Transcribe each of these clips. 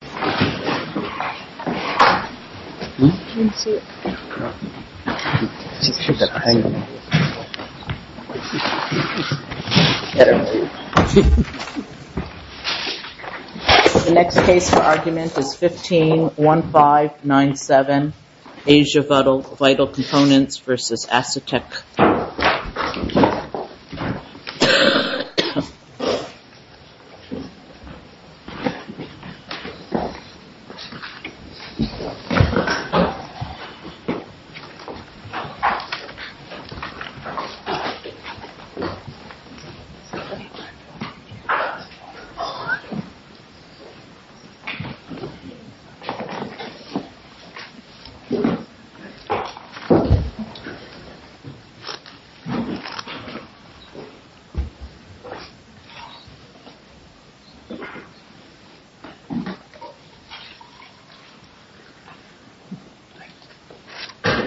The next case for argument is 15-1597, Asia Vital Components versus Acetec. The next case for argument is 15-1597, Asia Vital Components versus Acetec.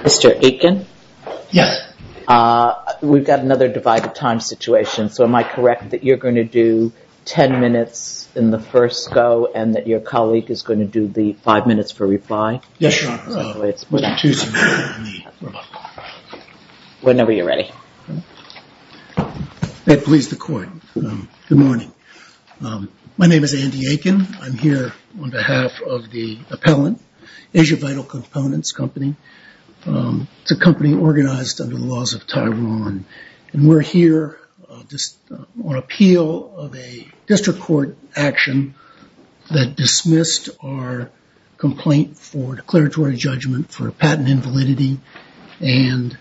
Mr. Aitken, we've got another divided time situation, so am I correct that you're going to do ten minutes in the first go and that your colleague is going to do the five minutes reply? Yes, Your Honor. Whenever you're ready. May it please the court. Good morning. My name is Andy Aitken. I'm here on behalf of the appellant, Asia Vital Components Company. It's a company organized under the laws of Taiwan. We're here on appeal of a district court action that dismissed our complaint for declaratory judgment for patent invalidity and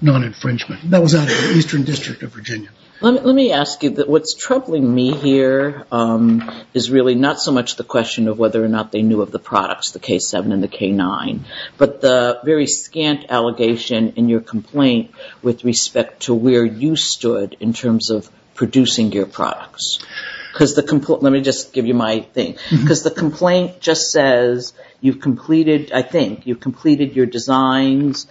non-infringement. That was out of the Eastern District of Virginia. Let me ask you, what's troubling me here is really not so much the question of whether or not they knew of the products, the K7 and the K9, but the very scant allegation in your complaint with respect to where you stood in terms of producing your products. Let me just give you my thing. Because the complaint just says you've completed, I think, you've completed your designs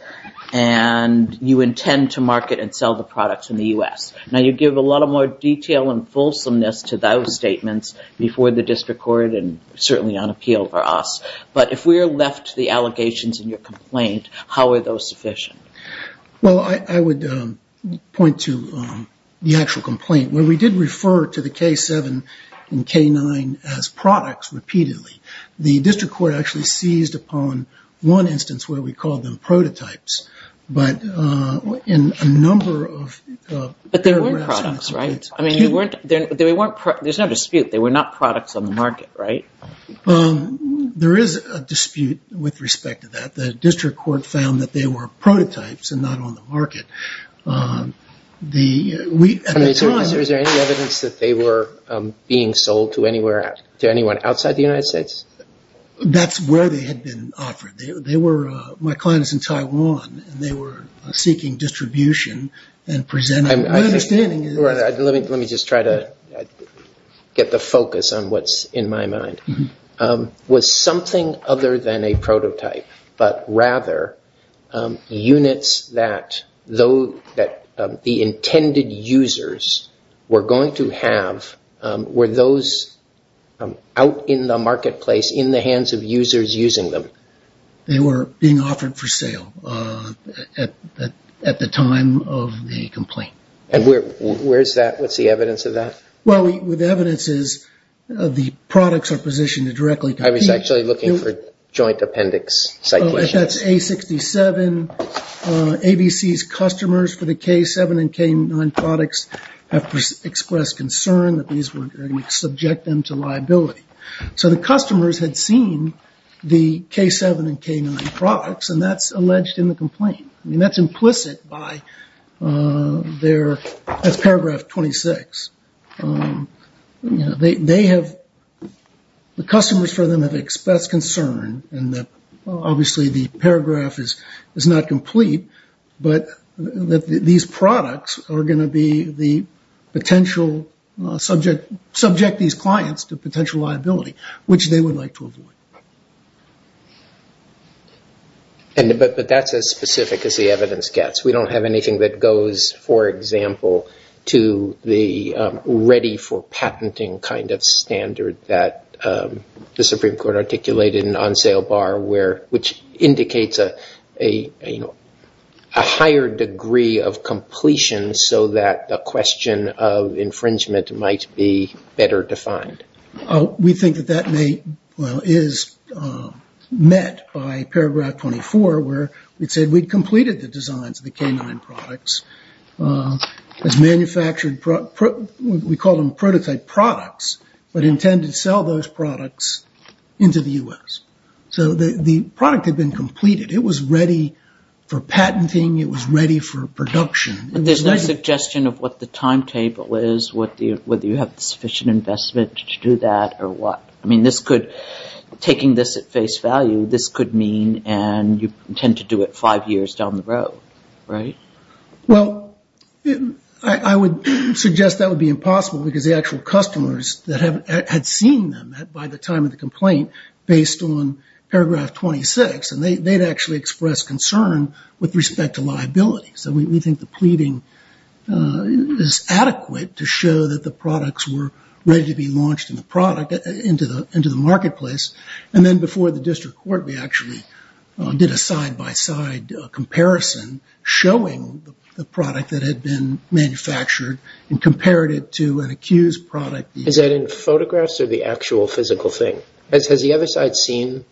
and you intend to market and sell the products in the U.S. Now you give a lot of more detail and fulsomeness to those statements before the district court and certainly on appeal for us. But if we're left to the allegations in your complaint, how are those sufficient? Well, I would point to the actual complaint. When we did refer to the K7 and K9 as products repeatedly, the district court actually seized upon one instance where we called them prototypes. But in a number of paragraphs in the statement... But they weren't products, right? I mean, they weren't... There's no dispute. They were not products on the market, right? There is a dispute with respect to that. The district court found that they were prototypes and not on the market. At the time... Is there any evidence that they were being sold to anyone outside the United States? That's where they had been offered. My client is in Taiwan and they were seeking distribution and presenting... Let me just try to get the focus on what's in my mind. Was something other than a prototype, but rather units that the intended users were going to have, were those out in the marketplace in the hands of users using them? They were being offered for sale at the time of the complaint. And where's that? What's the evidence of that? Well, the evidence is the products are positioned to directly compete... I was actually looking for joint appendix citations. That's A67. ABC's customers for the K7 and K9 products have expressed concern that these were going to subject them to liability. So the customers had seen the K7 and K9 products and that's alleged in the complaint. I mean, that's implicit by their... That's paragraph 26. They have... The customers for them have expressed concern and that obviously the paragraph is not complete, but that these products are going to be the potential subject... But that's as specific as the evidence gets. We don't have anything that goes, for example, to the ready for patenting kind of standard that the Supreme Court articulated in On Sale Bar, which indicates a higher degree of completion so that the question of infringement might be better defined. We think that that may, well, is met by paragraph 24 where it said we'd completed the designs of the K9 products as manufactured... We called them prototype products, but intended to sell those products into the US. So the product had been completed. It was ready for patenting. It was ready for production. There's no suggestion of what the timetable is, whether you have the sufficient investment to do that or what. I mean, this could... Taking this at face value, this could mean and you intend to do it five years down the road, right? Well, I would suggest that would be impossible because the actual customers that had seen them by the time of the complaint based on paragraph 26, and they'd actually expressed concern with respect to liability. So we think the pleading is adequate to show that the product had been launched into the marketplace. And then before the district court, we actually did a side-by-side comparison showing the product that had been manufactured and compared it to an accused product. Is that in photographs or the actual physical thing? Has the other side seen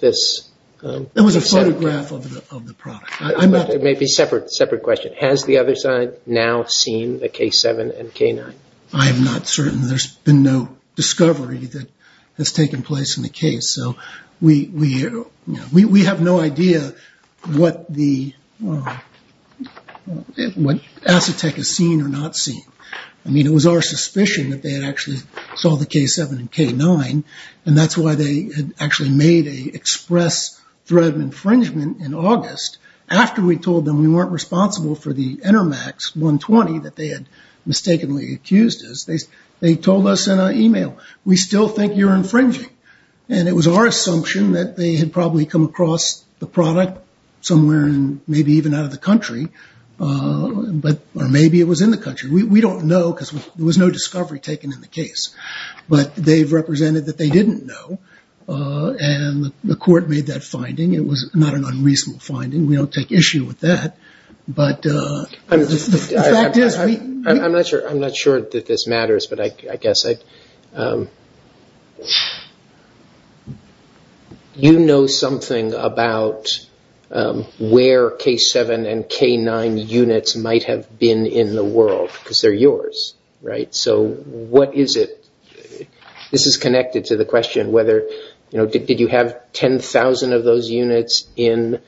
this? That was a photograph of the product. It may be a separate question. Has the other side now seen the K7 and K9? I'm not certain. There's been no discovery that has taken place in the case. So we have no idea what the... What Asetek has seen or not seen. I mean, it was our suspicion that they had actually saw the K7 and K9, and that's why they had actually made a express threat of infringement in August after we told them we weren't responsible for the Enermax 120 that they had mistakenly accused us. They told us in an email, we still think you're infringing. And it was our assumption that they had probably come across the product somewhere, maybe even out of the country, or maybe it was in the country. We don't know because there was no discovery taken in the case. But they've represented that they didn't know, and the court made that finding. It was not an unreasonable finding. We don't take issue with that, but the fact is we... I'm not sure that this matters, but I guess I'd... You know something about where K7 and K9 units might have been in the world, because they're yours, right? So what is it? This is connected to the question whether, you know, did you have 10,000 of those units in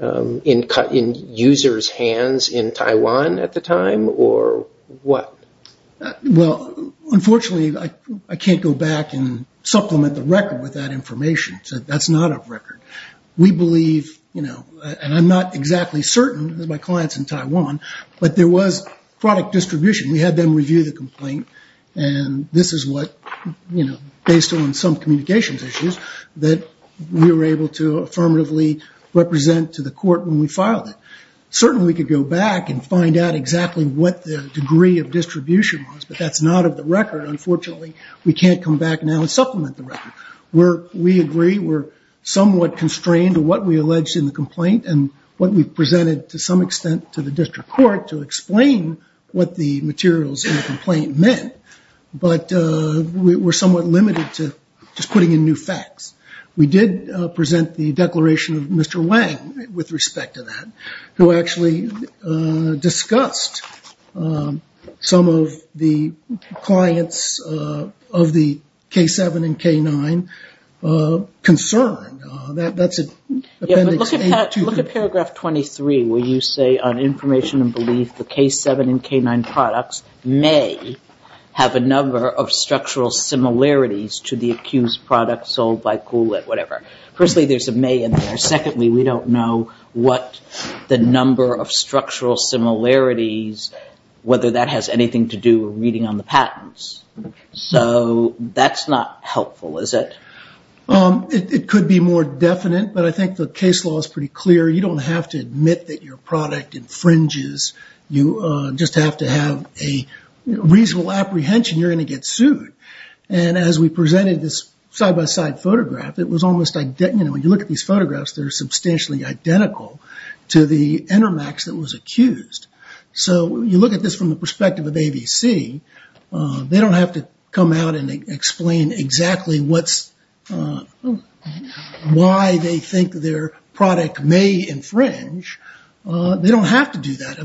users' hands in Taiwan at the time, or what? Well, unfortunately, I can't go back and supplement the record with that information. That's not a record. We believe, you know, and I'm not exactly certain because my client's in Taiwan, but there was product distribution. We had them review the complaint, and this is what, you know, based on some communications issues, that we were able to affirmatively represent to the court when we filed it. Certainly we could go back and find out exactly what the degree of distribution was, but that's not of the record, unfortunately. We can't come back now and supplement the record. We agree we're somewhat constrained to what we alleged in the complaint, and what we've court to explain what the materials in the complaint meant, but we're somewhat limited to just putting in new facts. We did present the declaration of Mr. Wang with respect to that, who actually discussed some of the clients of the K7 and K9 concerned. That's appendix A2. Yeah, but look at paragraph 23 where you say, on information and belief, the K7 and K9 products may have a number of structural similarities to the accused product sold by Kool-Aid, whatever. Firstly, there's a may in there. Secondly, we don't know what the number of structural similarities, whether that has anything to do with reading on the patents, so that's not helpful, is it? It could be more definite, but I think the case law is pretty clear. You don't have to admit that your product infringes. You just have to have a reasonable apprehension. You're going to get sued. As we presented this side-by-side photograph, it was almost... When you look at these photographs, they're substantially identical to the Enermax that was accused. You look at this from the perspective of AVC, they don't have to come out and explain exactly what's... Why they think their product may infringe. They don't have to do that.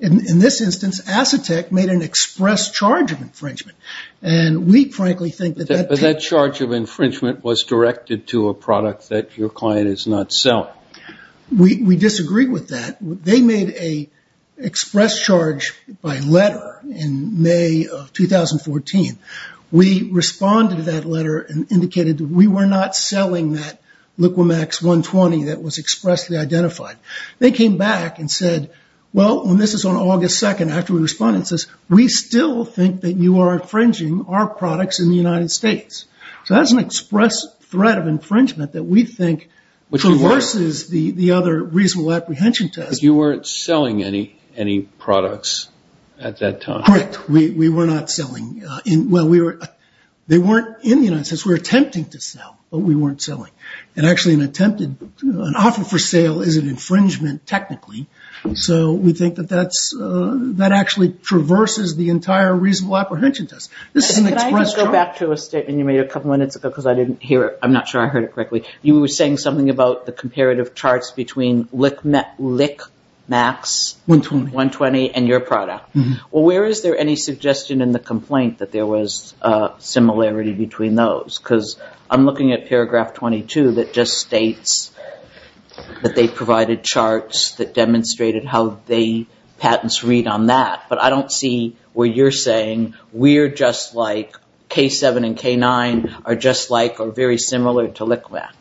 In this instance, Asetek made an express charge of infringement. We frankly think that... But that charge of infringement was directed to a product that your client is not selling. We disagree with that. They made a express charge by letter in May of 2014. We responded to that letter and indicated that we were not selling that Liquimax 120 that was expressly identified. They came back and said, well, when this is on August 2nd, after we responded, it says, we still think that you are infringing our products in the United States. That's an express threat of infringement that we think reverses the other reasonable apprehension test. You weren't selling any products at that time. Correct. We were not selling... Well, they weren't in the United States. We were attempting to sell, but we weren't selling. Actually an attempted... An offer for sale is an infringement technically, so we think that that actually traverses the entire reasonable apprehension test. This is an express charge. Could I just go back to a statement you made a couple of minutes ago because I didn't hear it. I'm not sure I heard it correctly. You were saying something about the comparative charts between Liquimax 120 and your product. Where is there any suggestion in the complaint that there was a similarity between those? I'm looking at paragraph 22 that just states that they provided charts that demonstrated how the patents read on that, but I don't see where you're saying we're just like K7 and K9 are just like or very similar to Liquimax.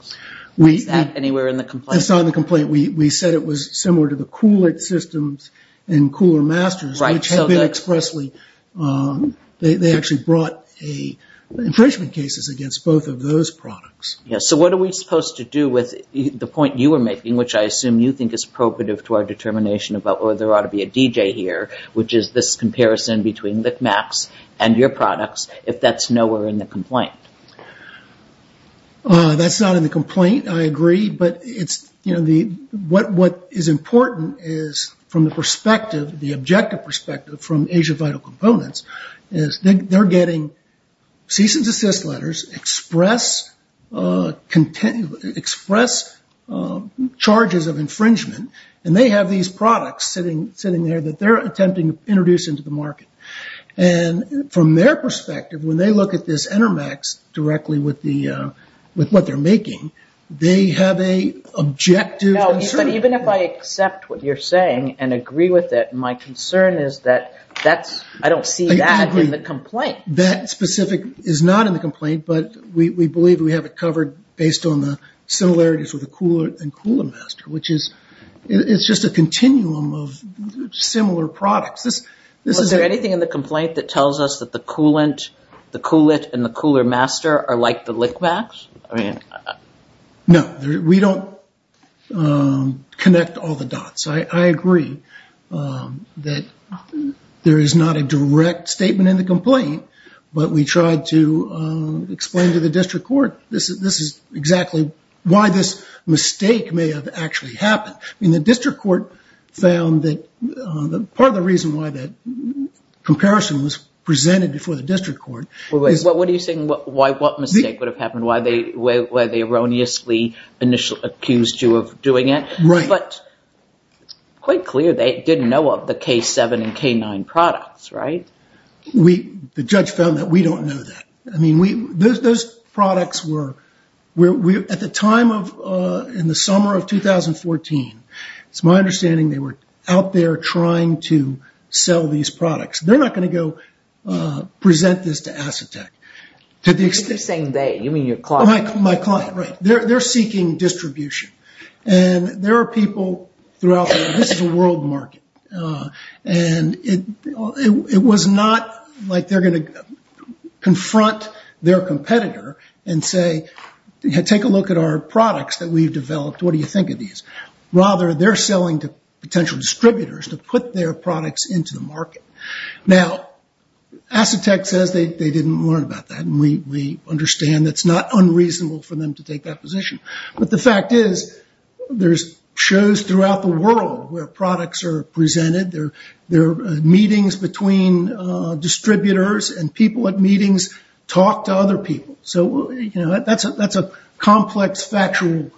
Was that anywhere in the complaint? It's not in the complaint. We said it was similar to the Kool-Aid systems and Kooler Masters, which have been expressly... They actually brought infringement cases against both of those products. What are we supposed to do with the point you were making, which I assume you think is appropriate to our determination about whether there ought to be a DJ here, which is this comparison between Liquimax and your products, if that's nowhere in the complaint? That's not in the complaint, I agree, but what is important is from the objective perspective from Asia Vital Components is they're getting cease and desist letters, express charges of infringement, and they have these products sitting there that they're attempting to introduce into the market. From their perspective, when they look at this Enermax directly with what they're making, they have an objective concern. Even if I accept what you're saying and agree with it, my concern is that I don't see that in the complaint. I agree. That specific is not in the complaint, but we believe we have it covered based on the similarities with the Kool-Aid and Kooler Master, which is just a continuum of similar products. Is there anything in the complaint that tells us that the Kool-It and the Kooler Master are like the Liquimax? No, we don't connect all the dots. I agree that there is not a direct statement in the complaint, but we tried to explain to the district court this is exactly why this mistake may have actually happened. The district court found that part of the reason why that comparison was presented before the district court is... What are you saying? What mistake would have happened? Why they erroneously initially accused you of doing it? But quite clear, they didn't know of the K7 and K9 products, right? The judge found that we don't know that. Those products were, at the time in the summer of 2014, it's my understanding they were out there trying to sell these products. They're not going to go present this to Assetek. To the extent... You're saying they. You mean your client. My client, right. They're seeking distribution. There are people throughout the world. This is a world market. It was not like they're going to confront their competitor and say, take a look at our products that we've developed. What do you think of these? Rather, they're selling to potential distributors to put their products into the market. Now, Assetek says they didn't learn about that. We understand that's not unreasonable for them to take that position. But the fact is, there's shows throughout the world where products are presented. There are meetings between distributors and people at meetings talk to other people. That's a complex factual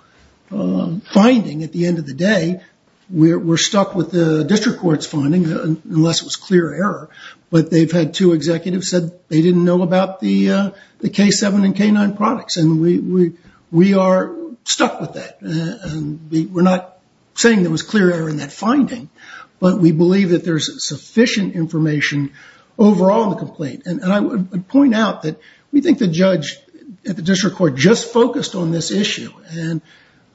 finding at the end of the day. We're stuck with the district court's finding, unless it was clear error. But they've had two executives said they didn't know about the K7 and K9 products. We are stuck with that. We're not saying there was clear error in that finding, but we believe that there's sufficient information overall in the complaint. I would point out that we think the judge at the district court just focused on this issue and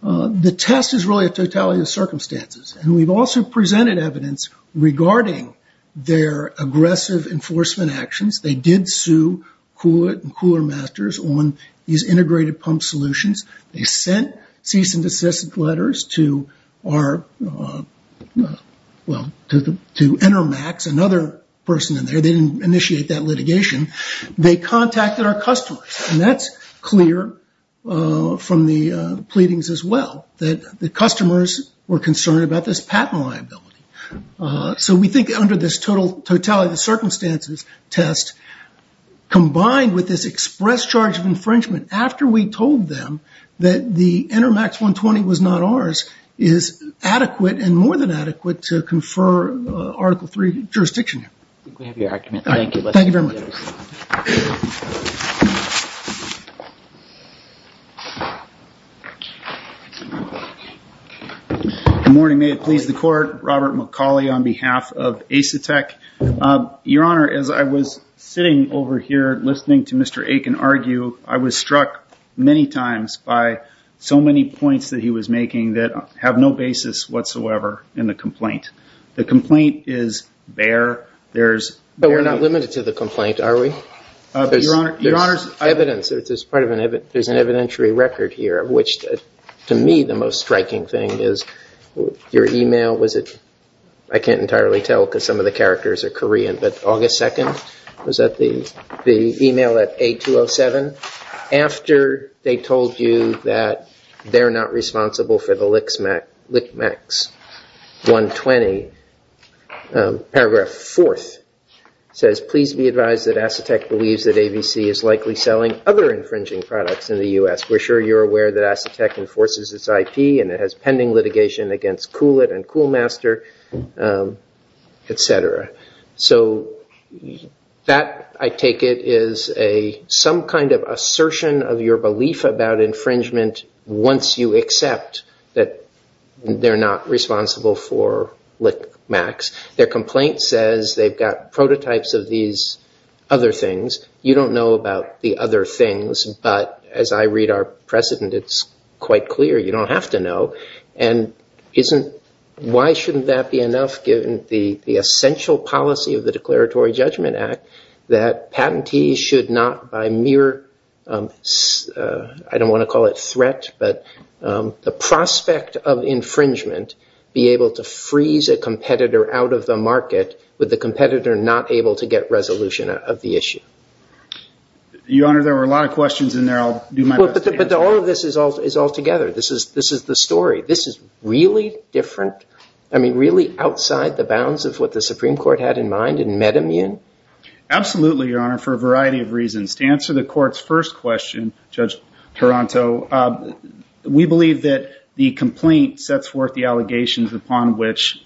the test is really a totality of circumstances. We've also presented evidence regarding their aggressive enforcement actions. They did sue Coolit and Cooler Masters on these integrated pump solutions. They sent cease and desist letters to Enermax, another person in there. They didn't initiate that litigation. They contacted our customers, and that's clear from the pleadings as well, that the customers were concerned about this patent liability. So we think under this totality of circumstances test, combined with this express charge of infringement after we told them that the Enermax 120 was not ours, is adequate and more than adequate to confer Article III jurisdiction here. I think we have your argument. Thank you. Good morning. May it please the court. Robert McCauley on behalf of Asetek. Your Honor, as I was sitting over here listening to Mr. Aiken argue, I was struck many times by so many points that he was making that have no basis whatsoever in the complaint. The complaint is bare. There's- But we're not limited to the complaint, are we? Your Honor- Your Honor's- Evidence, there's an evidentiary record here of which, to me, the most striking thing is your email, was it- I can't entirely tell because some of the characters are Korean, but August 2nd, was that the email at A207, after they told you that they're not responsible for the Lickmax 120, paragraph 4th says, please be advised that Asetek believes that ABC is likely selling other infringing products in the US. We're sure you're aware that Asetek enforces its IP and it has pending litigation against Coolit and Coolmaster, etc. So that, I take it, is some kind of assertion of your belief about infringement once you accept that they're not responsible for Lickmax. Their complaint says they've got prototypes of these other things. You don't know about the other things, but as I read our precedent, it's quite clear you don't have to know. And why shouldn't that be enough, given the essential policy of the Declaratory Judgment Act, that patentees should not, by mere, I don't want to call it threat, but the prospect of infringement, be able to freeze a competitor out of the market, with the competitor not able to get resolution of the issue. Your Honor, there were a lot of questions in there. I'll do my best to answer them. But all of this is all together. This is the story. This is really different? I mean, really outside the bounds of what the Supreme Court had in mind in MedImmune? Absolutely, Your Honor, for a variety of reasons. To answer the court's first question, Judge Taranto, we believe that the complaint sets forth the allegations upon which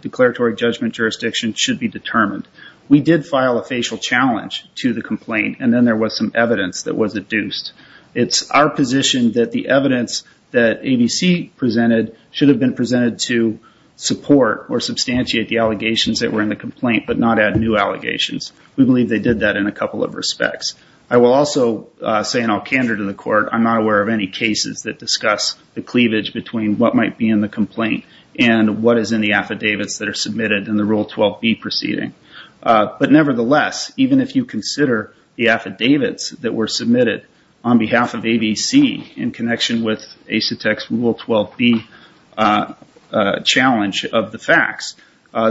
declaratory judgment jurisdiction should be determined. We did file a facial challenge to the complaint, and then there was some evidence that was adduced. It's our position that the evidence that ABC presented should have been presented to support or substantiate the allegations that were in the complaint, but not add new allegations. We believe they did that in a couple of respects. I will also say in all candor to the court, I'm not aware of any cases that discuss the cleavage between what might be in the complaint and what is in the affidavits that are submitted in the Rule 12B proceeding. But nevertheless, even if you consider the affidavits that were submitted on behalf of ABC in connection with ACETEC's Rule 12B challenge of the facts,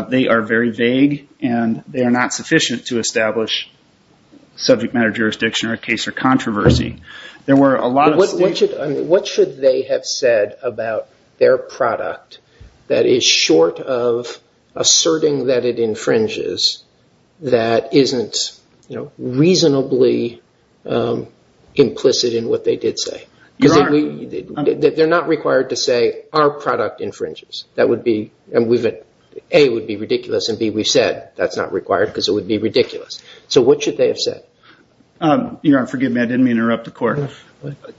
they are very vague, and they are not sufficient to establish subject matter jurisdiction or a case for controversy. There were a lot of states... is short of asserting that it infringes that isn't reasonably implicit in what they did say. They're not required to say, our product infringes. That would be, A, would be ridiculous, and B, we've said that's not required because it would be ridiculous. So what should they have said? Your Honor, forgive me, I didn't mean to interrupt the court.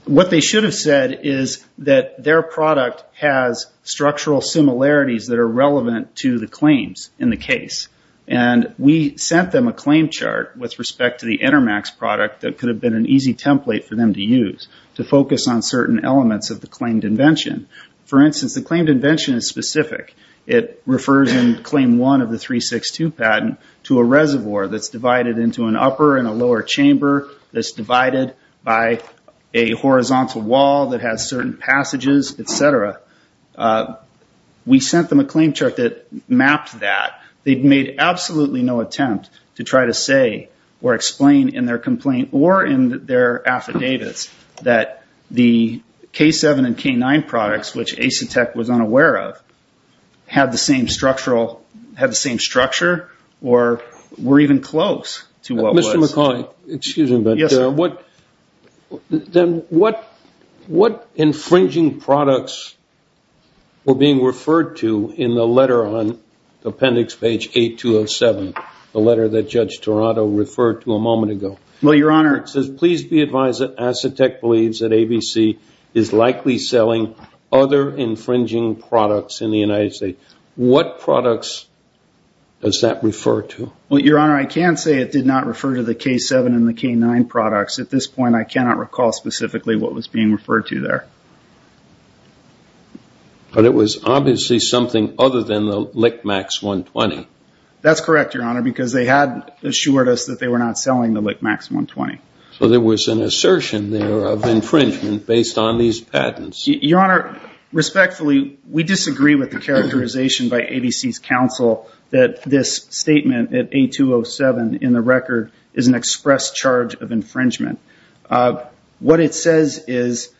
What they should have said is that their product has structural similarities that are relevant to the claims in the case. And we sent them a claim chart with respect to the Intermax product that could have been an easy template for them to use to focus on certain elements of the claimed invention. For instance, the claimed invention is specific. It refers in Claim 1 of the 362 patent to a reservoir that's divided into an horizontal wall that has certain passages, et cetera. We sent them a claim chart that mapped that. They made absolutely no attempt to try to say or explain in their complaint or in their affidavits that the K7 and K9 products, which Asetek was unaware of, had the same structural... had the same structure or were even close to what was... Then what infringing products were being referred to in the letter on the appendix page 8207, the letter that Judge Toronto referred to a moment ago? Well, Your Honor... It says, please be advised that Asetek believes that ABC is likely selling other infringing products in the United States. What products does that refer to? Well, Your Honor, I can say it did not refer to the K7 and the K9 products. At this point, I cannot recall specifically what was being referred to there. But it was obviously something other than the Lickmax 120. That's correct, Your Honor, because they had assured us that they were not selling the Lickmax 120. So there was an assertion there of infringement based on these patents. Your Honor, respectfully, we disagree with the characterization by ABC's counsel that this statement at 8207 in the record is an express charge of infringement. What it says is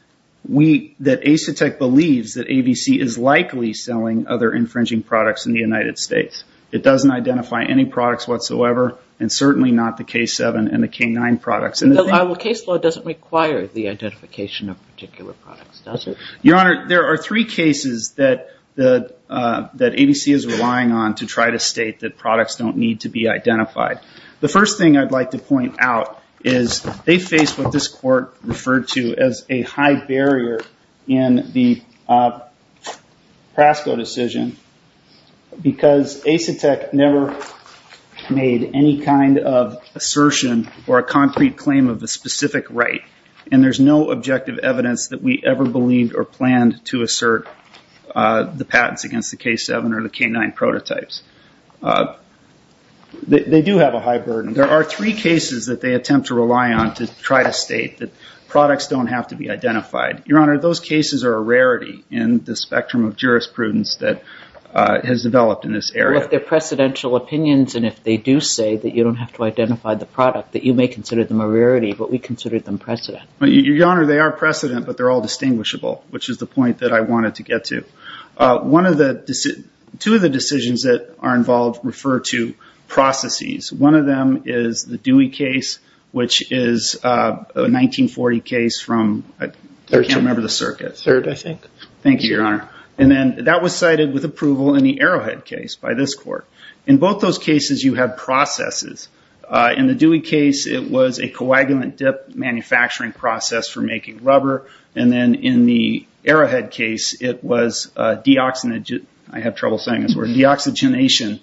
that Asetek believes that ABC is likely selling other infringing products in the United States. It doesn't identify any products whatsoever, and certainly not the K7 and the K9 products. The case law doesn't require the identification of particular products, does it? Your Honor, there are three cases that ABC is relying on to try to state that products don't need to be identified. The first thing I'd like to point out is they face what this court referred to as a high barrier in the Prasco decision, because Asetek never made any kind of assertion or a concrete claim of a specific right, and there's no objective evidence that we ever believed or planned to assert the patents against the K7 or the K9 prototypes. They do have a high burden. There are three cases that they attempt to rely on to try to state that products don't have to be identified. Your Honor, those cases are a rarity in the spectrum of jurisprudence that has developed in this area. Well, if they're precedential opinions, and if they do say that you don't have to identify the product, that you may consider them a rarity, but we consider them precedent. Your Honor, they are precedent, but they're all distinguishable, which is the point that I'm trying to make here. There are a number of cases that are involved, refer to processes. One of them is the Dewey case, which is a 1940 case from, I can't remember the circuit. Third, I think. Thank you, Your Honor. That was cited with approval in the Arrowhead case by this court. In both those cases, you have processes. In the Dewey case, it was a coagulant dip manufacturing process for making rubber, and then in the Arrowhead case, it was deoxygenation, I have trouble saying the word, deoxygenation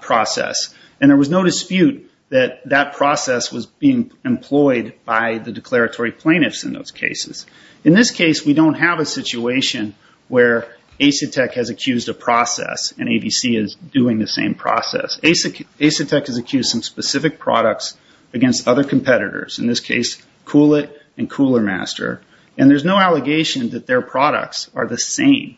process. And there was no dispute that that process was being employed by the declaratory plaintiffs in those cases. In this case, we don't have a situation where Asetek has accused a process, and ABC is doing the same process. Asetek has accused some specific products against other competitors, in this case, Kool-It and Cooler Master. And there's no allegation that their products are the same,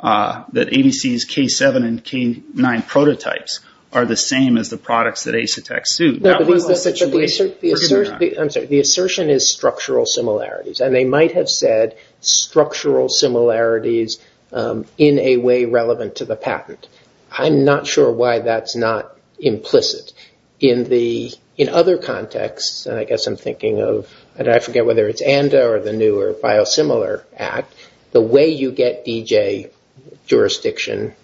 that ABC's K7 and K9 prototypes are the same as the products that Asetek sued. That was the situation. Forgive me, Your Honor. I'm sorry. The assertion is structural similarities, and they might have said structural similarities in a way relevant to the patent. I'm not sure why that's not implicit. In other contexts, and I guess I'm thinking of, I forget whether it's ANDA or the new or biosimilar act, the way you get DJ jurisdiction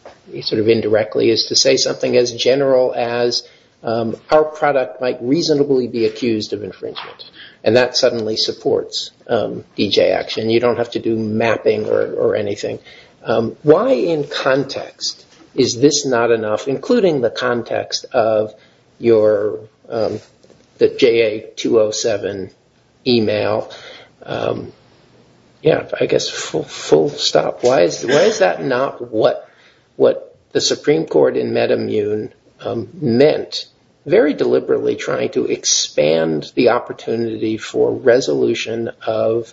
sort of indirectly is to say something as general as, our product might reasonably be accused of infringement. And that suddenly supports DJ action. You don't have to do mapping or anything. Why in context is this not enough, including the context of your, the JA207 email, yeah, I guess full stop. Why is that not what the Supreme Court in MedImmune meant? Very deliberately trying to expand the opportunity for resolution of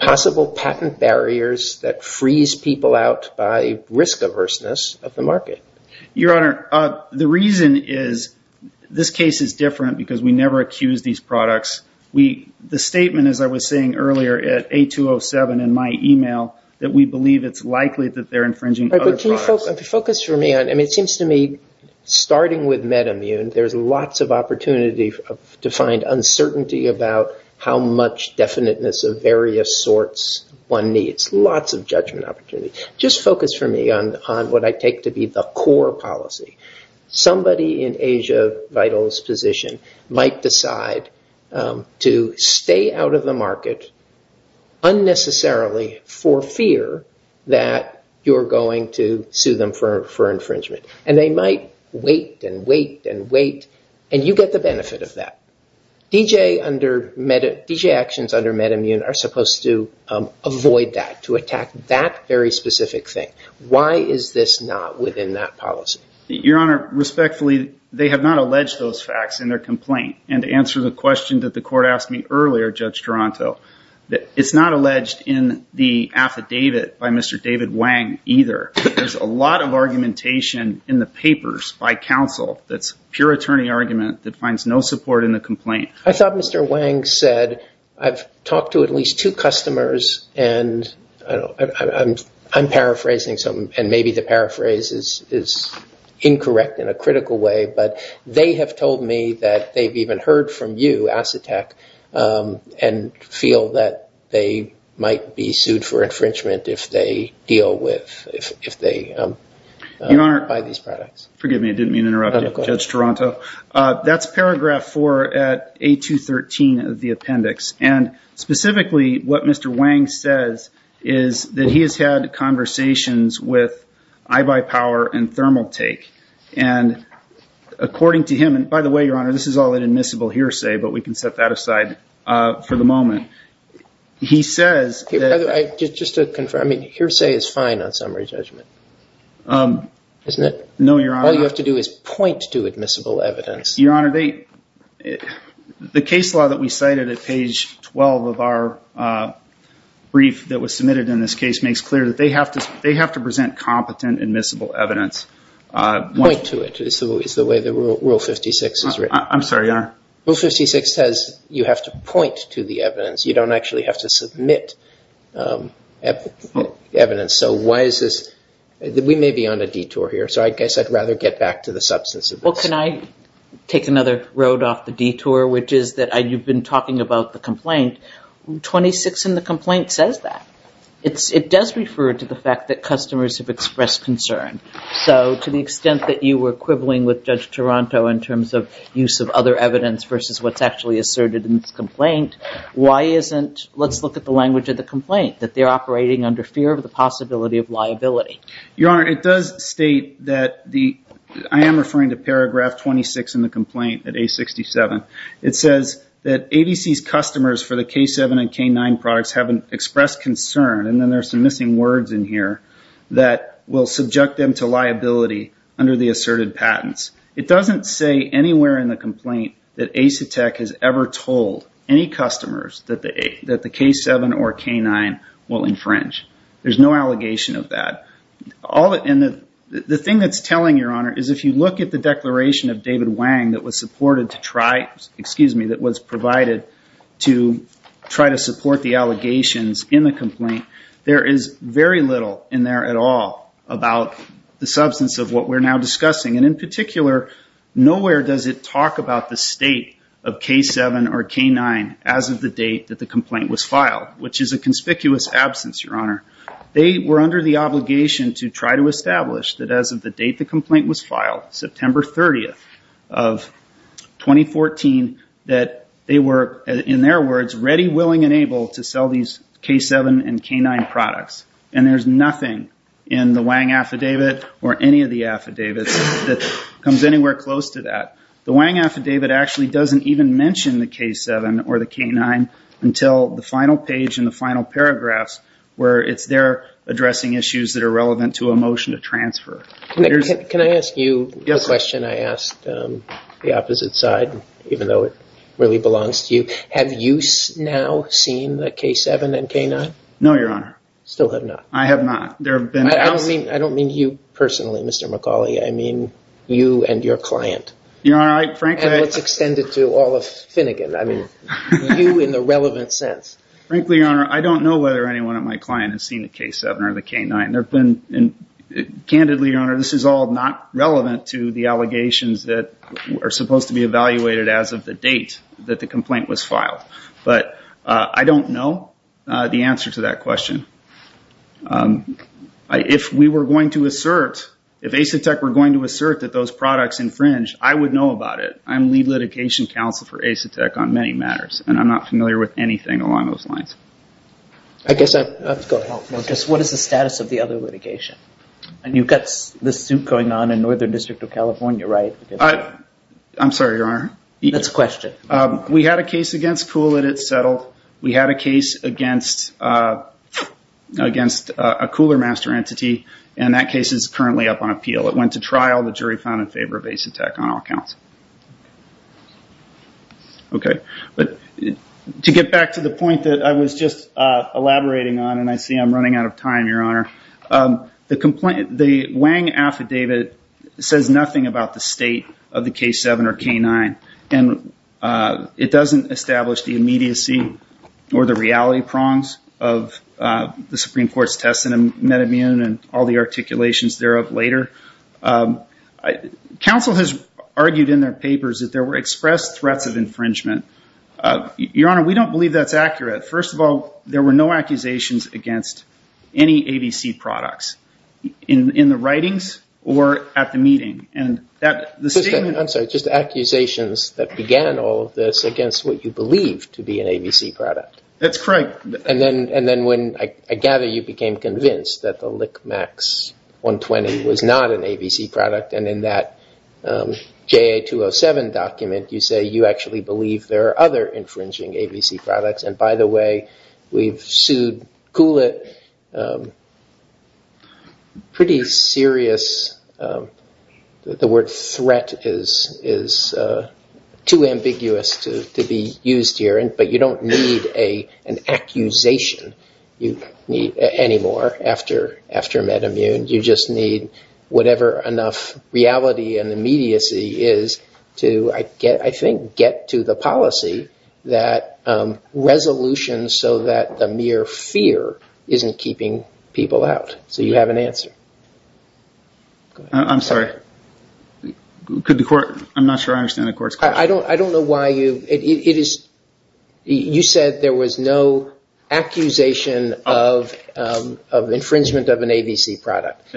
possible patent barriers that freeze people out by risk averseness of the market. Your Honor, the reason is, this case is different because we never accuse these products. The statement, as I was saying earlier, at A207 in my email, that we believe it's likely that they're infringing other products. Can you focus for me on, I mean, it seems to me, starting with MedImmune, there's lots of opportunity to find uncertainty about how much definiteness of various sorts one needs. Lots of judgment opportunity. Just focus for me on what I take to be the core policy. Somebody in Asia Vital's position might decide to stay out of the market unnecessarily for fear that you're going to sue them for infringement. And they might wait and wait and wait and you get the benefit of that. D.J. actions under MedImmune are supposed to avoid that, to attack that very specific thing. Why is this not within that policy? Your Honor, respectfully, they have not alleged those facts in their complaint. And to answer the question that the court asked me earlier, Judge Toronto, it's not alleged in the affidavit by Mr. David Wang either. There's a lot of argumentation in the papers by counsel that's pure attorney argument that finds no support in the complaint. I thought Mr. Wang said, I've talked to at least two customers and I'm paraphrasing something and maybe the paraphrase is incorrect in a critical way. But they have told me that they've even heard from you, Asetek, and feel that they might be sued for infringement if they deal with, if they buy these products. Forgive me, I didn't mean to interrupt you, Judge Toronto. That's paragraph 4 at A213 of the appendix. And specifically, what Mr. Wang says is that he has had conversations with iBuyPower and Thermaltake. And according to him, and by the way, Your Honor, this is all an admissible hearsay, but we can set that aside for the moment. He says that... Just to confirm, I mean, hearsay is fine on summary judgment, isn't it? No, Your Honor. All you have to do is point to admissible evidence. Your Honor, the case law that we cited at page 12 of our brief that was submitted in this case makes clear that they have to present competent admissible evidence. Point to it, is the way that Rule 56 is written. I'm sorry, Your Honor. Rule 56 says you have to point to the evidence. You don't actually have to submit evidence. So why is this... We may be on a detour here, so I guess I'd rather get back to the substance of this. Well, can I take another road off the detour, which is that you've been talking about the complaint. 26 in the complaint says that. It does refer to the fact that customers have expressed concern. So to the extent that you were quibbling with Judge Toronto in terms of use of other evidence versus what's actually asserted in this complaint, why isn't... Let's look at the language of the complaint, that they're operating under fear of the possibility of liability. Your Honor, it does state that the... I am referring to paragraph 26 in the complaint at A67. It says that ABC's customers for the K7 and K9 products have expressed concern, and then there's some missing words in here, that will subject them to liability under the asserted patents. It doesn't say anywhere in the complaint that Asetek has ever told any customers that the K7 or K9 will infringe. There's no allegation of that. The thing that's telling, Your Honor, is if you look at the declaration of David Wang that was provided to try to support the allegations in the complaint, there is very little in there at all about the substance of what we're now discussing. In particular, nowhere does it talk about the state of K7 or K9 as of the date that the complaint was filed, which is a conspicuous absence, Your Honor. They were under the obligation to try to establish that as of the date the complaint was filed, September 30th of 2014, that they were, in their words, ready, willing, and able to sell these K7 and K9 products. And there's nothing in the Wang affidavit or any of the affidavits that comes anywhere close to that. The Wang affidavit actually doesn't even mention the K7 or the K9 until the final page in the final paragraphs where it's there addressing issues that are relevant to a motion to transfer. Can I ask you a question I asked the opposite side, even though it really belongs to you? Have you now seen the K7 and K9? No, Your Honor. Still have not? I have not. I don't mean you personally, Mr. McAuley. I mean you and your client. You're right, frankly. And let's extend it to all of Finnegan. I mean, you in the relevant sense. Frankly, Your Honor, I don't know whether anyone at my client has seen the K7 or the K9. Candidly, Your Honor, this is all not relevant to the allegations that are supposed to be evaluated as of the date that the complaint was filed. But I don't know the answer to that question. If we were going to assert, if Asetek were going to assert that those products infringe, I would know about it. I'm lead litigation counsel for Asetek on many matters. And I'm not familiar with anything along those lines. I guess I have to go ahead. What is the status of the other litigation? And you've got this suit going on in Northern District of California, right? I'm sorry, Your Honor. That's a question. We had a case against Kuhl that it settled. We had a case against a Kuhler master entity. And that case is currently up on appeal. It went to trial. The jury found in favor of Asetek on all counts. Okay. But to get back to the point that I was just elaborating on and I see I'm running out of time, Your Honor, the Wang affidavit says nothing about the state of the K7 or K9. And it doesn't establish the immediacy or the reality prongs of the Supreme Court's test in MedImmune and all the like. Counsel has argued in their papers that there were expressed threats of infringement. Your Honor, we don't believe that's accurate. First of all, there were no accusations against any ABC products in the writings or at the meeting. I'm sorry. Just accusations that began all of this against what you believed to be an ABC product. That's correct. And then when I gather you became convinced that the K7 was an ABC product and in that JA207 document you say you actually believe there are other infringing ABC products. And by the way, we've sued Kulit. Pretty serious. The word threat is too ambiguous to be used here. But you don't need an accusation anymore after MedImmune. You just need whatever enough reality and immediacy is to, I think, get to the policy that resolution so that the mere fear isn't keeping people out. So you have an answer. I'm sorry. I'm not sure I understand the Court's question. I don't know why you, it is, you said there was no accusation of infringement of an ABC product.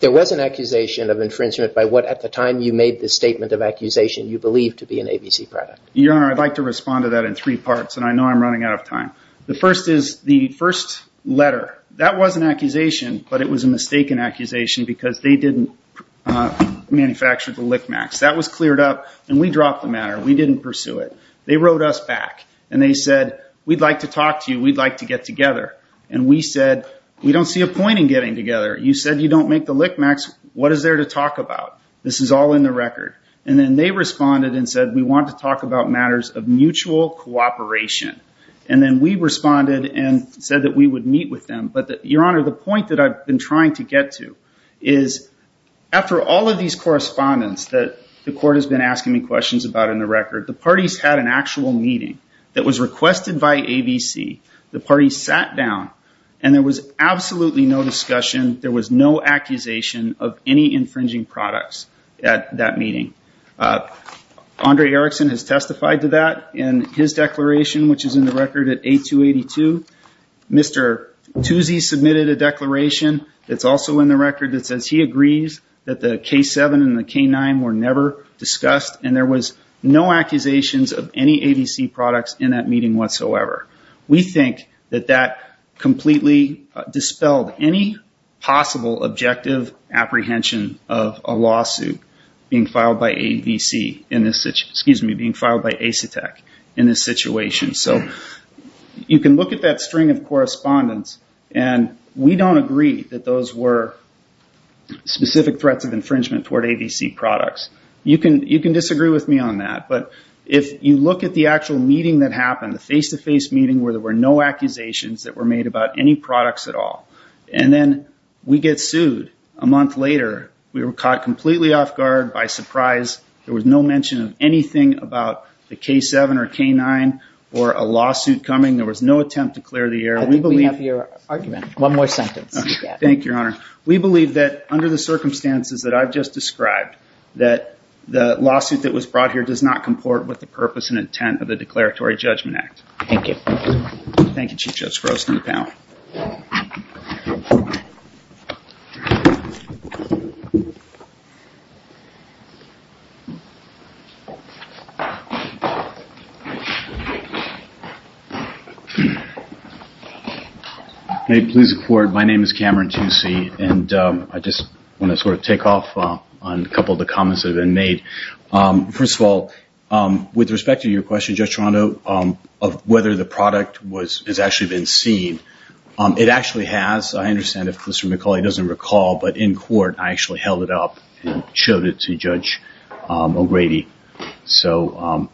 There was an accusation of infringement by what, at the time you made this statement of accusation, you believed to be an ABC product. Your Honor, I'd like to respond to that in three parts, and I know I'm running out of time. The first is the first letter. That was an accusation, but it was a mistaken accusation because they didn't manufacture the LickMax. That was cleared up, and we dropped the matter. We didn't pursue it. They wrote us back, and they said, we'd like to talk to you. We'd like to get together, and we said, we don't see a point in getting together. You said you don't make the LickMax. What is there to talk about? This is all in the record, and then they responded and said, we want to talk about matters of mutual cooperation, and then we responded and said that we would meet with them, but Your Honor, the point that I've been trying to get to is, after all of these correspondence that the Court has been asking me questions about in the record, the parties had an actual meeting that was requested by ABC. The parties sat down, and there was absolutely no discussion. There was no accusation of any infringing products at that meeting. Andre Erickson has testified to that in his declaration, which is in the record at 8282. Mr. Tuzi submitted a declaration that's also in the record that says he agrees that the K7 and the K9 were never discussed, and there was no accusations of any ABC products in that meeting whatsoever. We think that that completely dispelled any possible objective apprehension of a lawsuit being filed by ABC, excuse me, being filed by Asetek in this situation. You can look at that string of correspondence, and we don't agree that those were specific threats of infringement toward ABC products. You can disagree with me on that, but if you look at the actual meeting that happened, the face-to-face meeting where there were no accusations that were made about any products at all, and then we get sued a month later, we were caught completely off guard by surprise. There was no mention of anything about the K7 or K9 or a lawsuit coming. There was no attempt to clear the air. I think we have your argument. One more sentence. Thank you, Your Honor. We believe that under the circumstances that I've just described, that the lawsuit that was brought here does not comport with the purpose and intent of the Declaratory Judgment Act. Thank you. Thank you, Chief Judge Frost, and the panel. May it please the Court, my name is Cameron Toosey, and I just want to sort of take off on a couple of the comments that have been made. First of all, with respect to your question, Judge Toronto, of whether the product has actually been seen, it actually has. I understand if Commissioner McCauley doesn't recall, but in court, I actually held it up and showed it to Judge O'Grady. So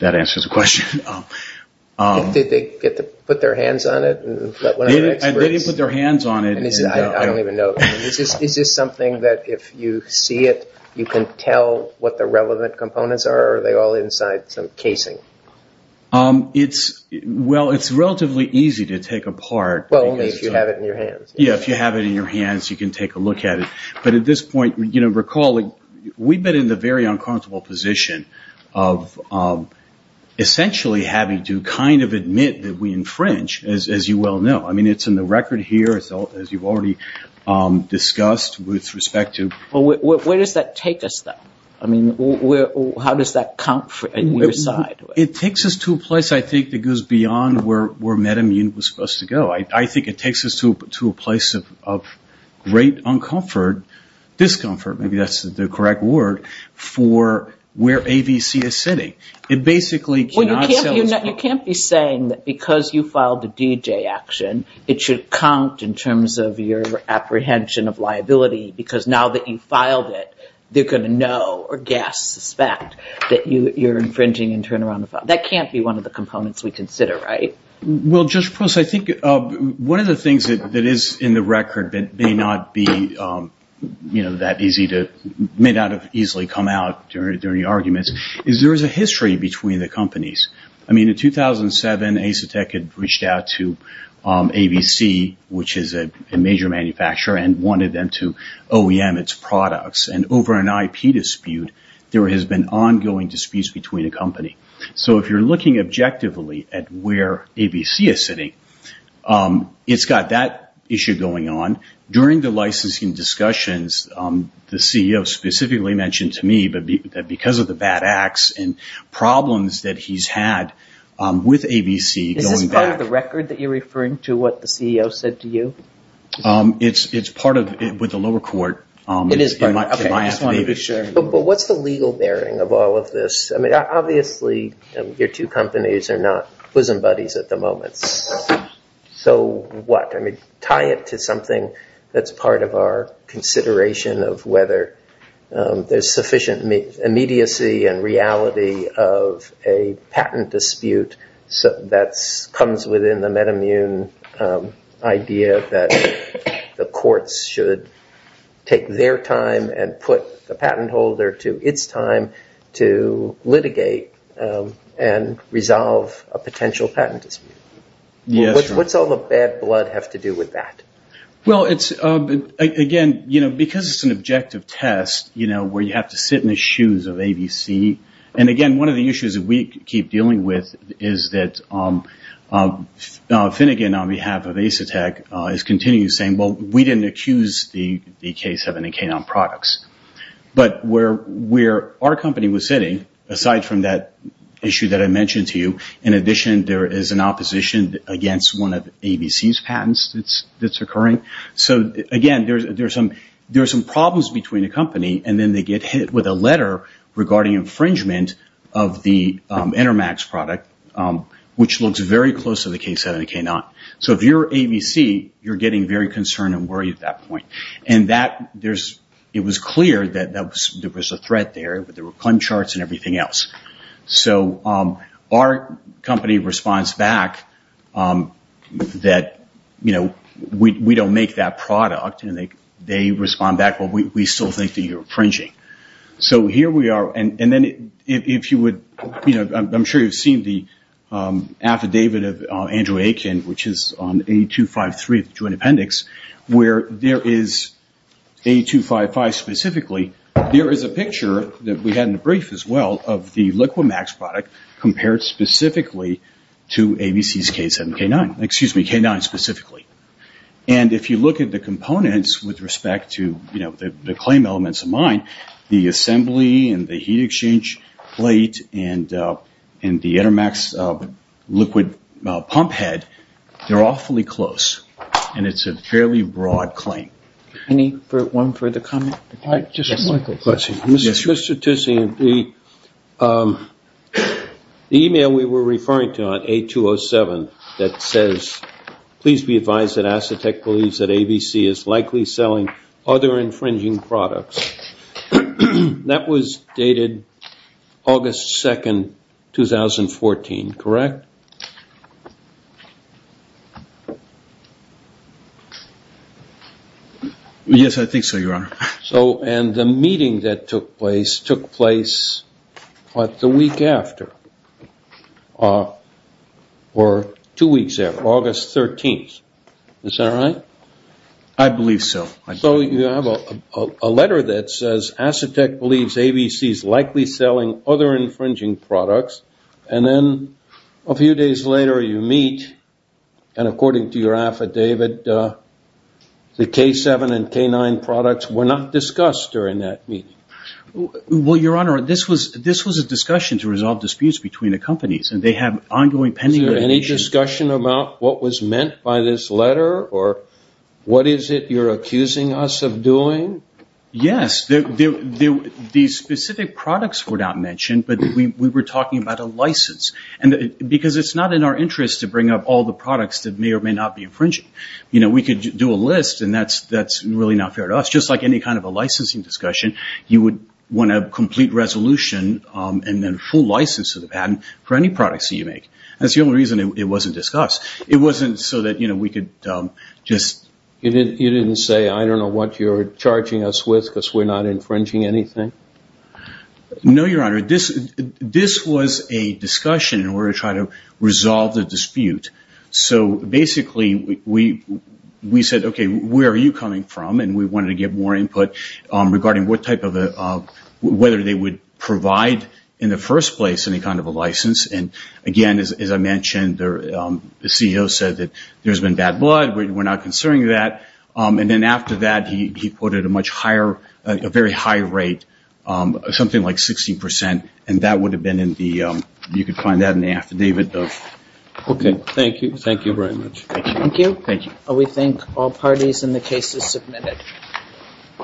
that answers the question. Did they get to put their hands on it? They didn't put their hands on it. I don't even know. Is this something that if you see it, you can tell what the relevant components are, or are they all inside some casing? Well, it's relatively easy to take apart. Well, only if you have it in your hands. Yeah, if you have it in your hands, you can take a look at it. But at this point, recall, we've been in the very unconscionable position of essentially having to kind of infringe, as you well know. I mean, it's in the record here, as you've already discussed, with respect to... Well, where does that take us, though? I mean, how does that count for your side? It takes us to a place, I think, that goes beyond where MedImmune was supposed to go. I think it takes us to a place of great uncomfort, discomfort, maybe that's the correct word, for where AVC is sitting. It basically cannot... Well, you can't be saying that because you filed a DJ action, it should count in terms of your apprehension of liability, because now that you've filed it, they're going to know or guess, suspect, that you're infringing and turn around the file. That can't be one of the components we consider, right? Well, Judge Pross, I think one of the things that is in the record that may not be that easy to... is there is a history between the companies. I mean, in 2007, Asetek had reached out to AVC, which is a major manufacturer, and wanted them to OEM its products. And over an IP dispute, there has been ongoing disputes between the company. So if you're looking objectively at where AVC is sitting, it's got that issue going on. During the licensing discussions, the CEO specifically mentioned to me that because of the bad acts and problems that he's had with AVC... Is this part of the record that you're referring to, what the CEO said to you? It's part of it with the lower court. It is part of it. But what's the legal bearing of all of this? I mean, obviously, your two companies are not bosom buddies at the moment. So what? I mean, tie it to something that's part of our consideration of whether there's sufficient immediacy and reality of a patent dispute that comes within the meta-immune idea that the courts should take their time and put the patent holder to its time to litigate and resolve a potential patent dispute. What's all the bad blood have to do with that? Well, again, because it's an objective test, where you have to sit in the shoes of AVC... And again, one of the issues that we keep dealing with is that Finnegan, on behalf of Asetek, is continuing to say, well, we didn't accuse the case of any K-9 products. But where our company was sitting, aside from that issue that I mentioned to you, in addition, there is an opposition against one of AVC's patents that's occurring. So again, there are some problems between the company, and then they get hit with a letter regarding infringement of the Intermax product, which looks very close to the case of the K-9. So if you're AVC, you're getting very concerned and worried at that point. And it was clear that there was a threat there, but there were claim charts and everything else. So our company responds back that, you know, we don't make that product, and they respond back, but we still think that you're infringing. So here we are, and then if you would... I'm sure you've seen the affidavit of Andrew Aiken, which is on 8253 of the Joint Appendix, where there is, 8255 specifically, there is a picture that we had in the brief as well, of the Liquimax product compared specifically to AVC's K-7, K-9, excuse me, K-9 specifically. And if you look at the components with respect to, you know, the claim elements of mine, the assembly and the heat exchange plate and the Intermax liquid pump head, they're awfully close, and it's a fairly broad claim. Any one further comment? Just one quick question. Mr. Tucci, the email we were referring to on A-207 that says, please be advised that Acetec believes that AVC is likely selling other infringing products, that was dated August 2nd, 2014, correct? Yes, I think so, Your Honor. So, and the meeting that took place took place the week after, or two weeks after, August 13th. Is that right? I believe so. So you have a letter that says, Acetec believes AVC is likely selling other infringing products, and then a few days later you meet, and according to your affidavit, the K-7 and K-9 products were not discussed during that meeting. Well, Your Honor, this was a discussion to resolve disputes between the companies, and they have ongoing pending... Is there any discussion about what was meant by this letter, or what is it you're accusing us of doing? Yes, the specific products were not mentioned, but we were talking about a license, because it's not in our interest to bring up all the products that may or may not be infringing. We could do a list, and that's really not fair to us. Just like any kind of a licensing discussion, you would want a complete resolution, and then a full license of the patent for any products that you make. That's the only reason it wasn't discussed. It wasn't so that we could just... You didn't say, I don't know what you're charging us with because we're not infringing anything? No, Your Honor. This was a discussion in order to try to resolve the dispute. So basically, we said, okay, where are you coming from? And we wanted to get more input regarding whether they would provide, in the first place, any kind of a license. And again, as I mentioned, the CEO said that there's been bad blood. We're not concerned with that. And then after that, he quoted a very high rate, something like 16%. And that would have been in the... You could find that in the affidavit, though. Okay. Thank you. Thank you very much. Thank you. We thank all parties, and the case is submitted.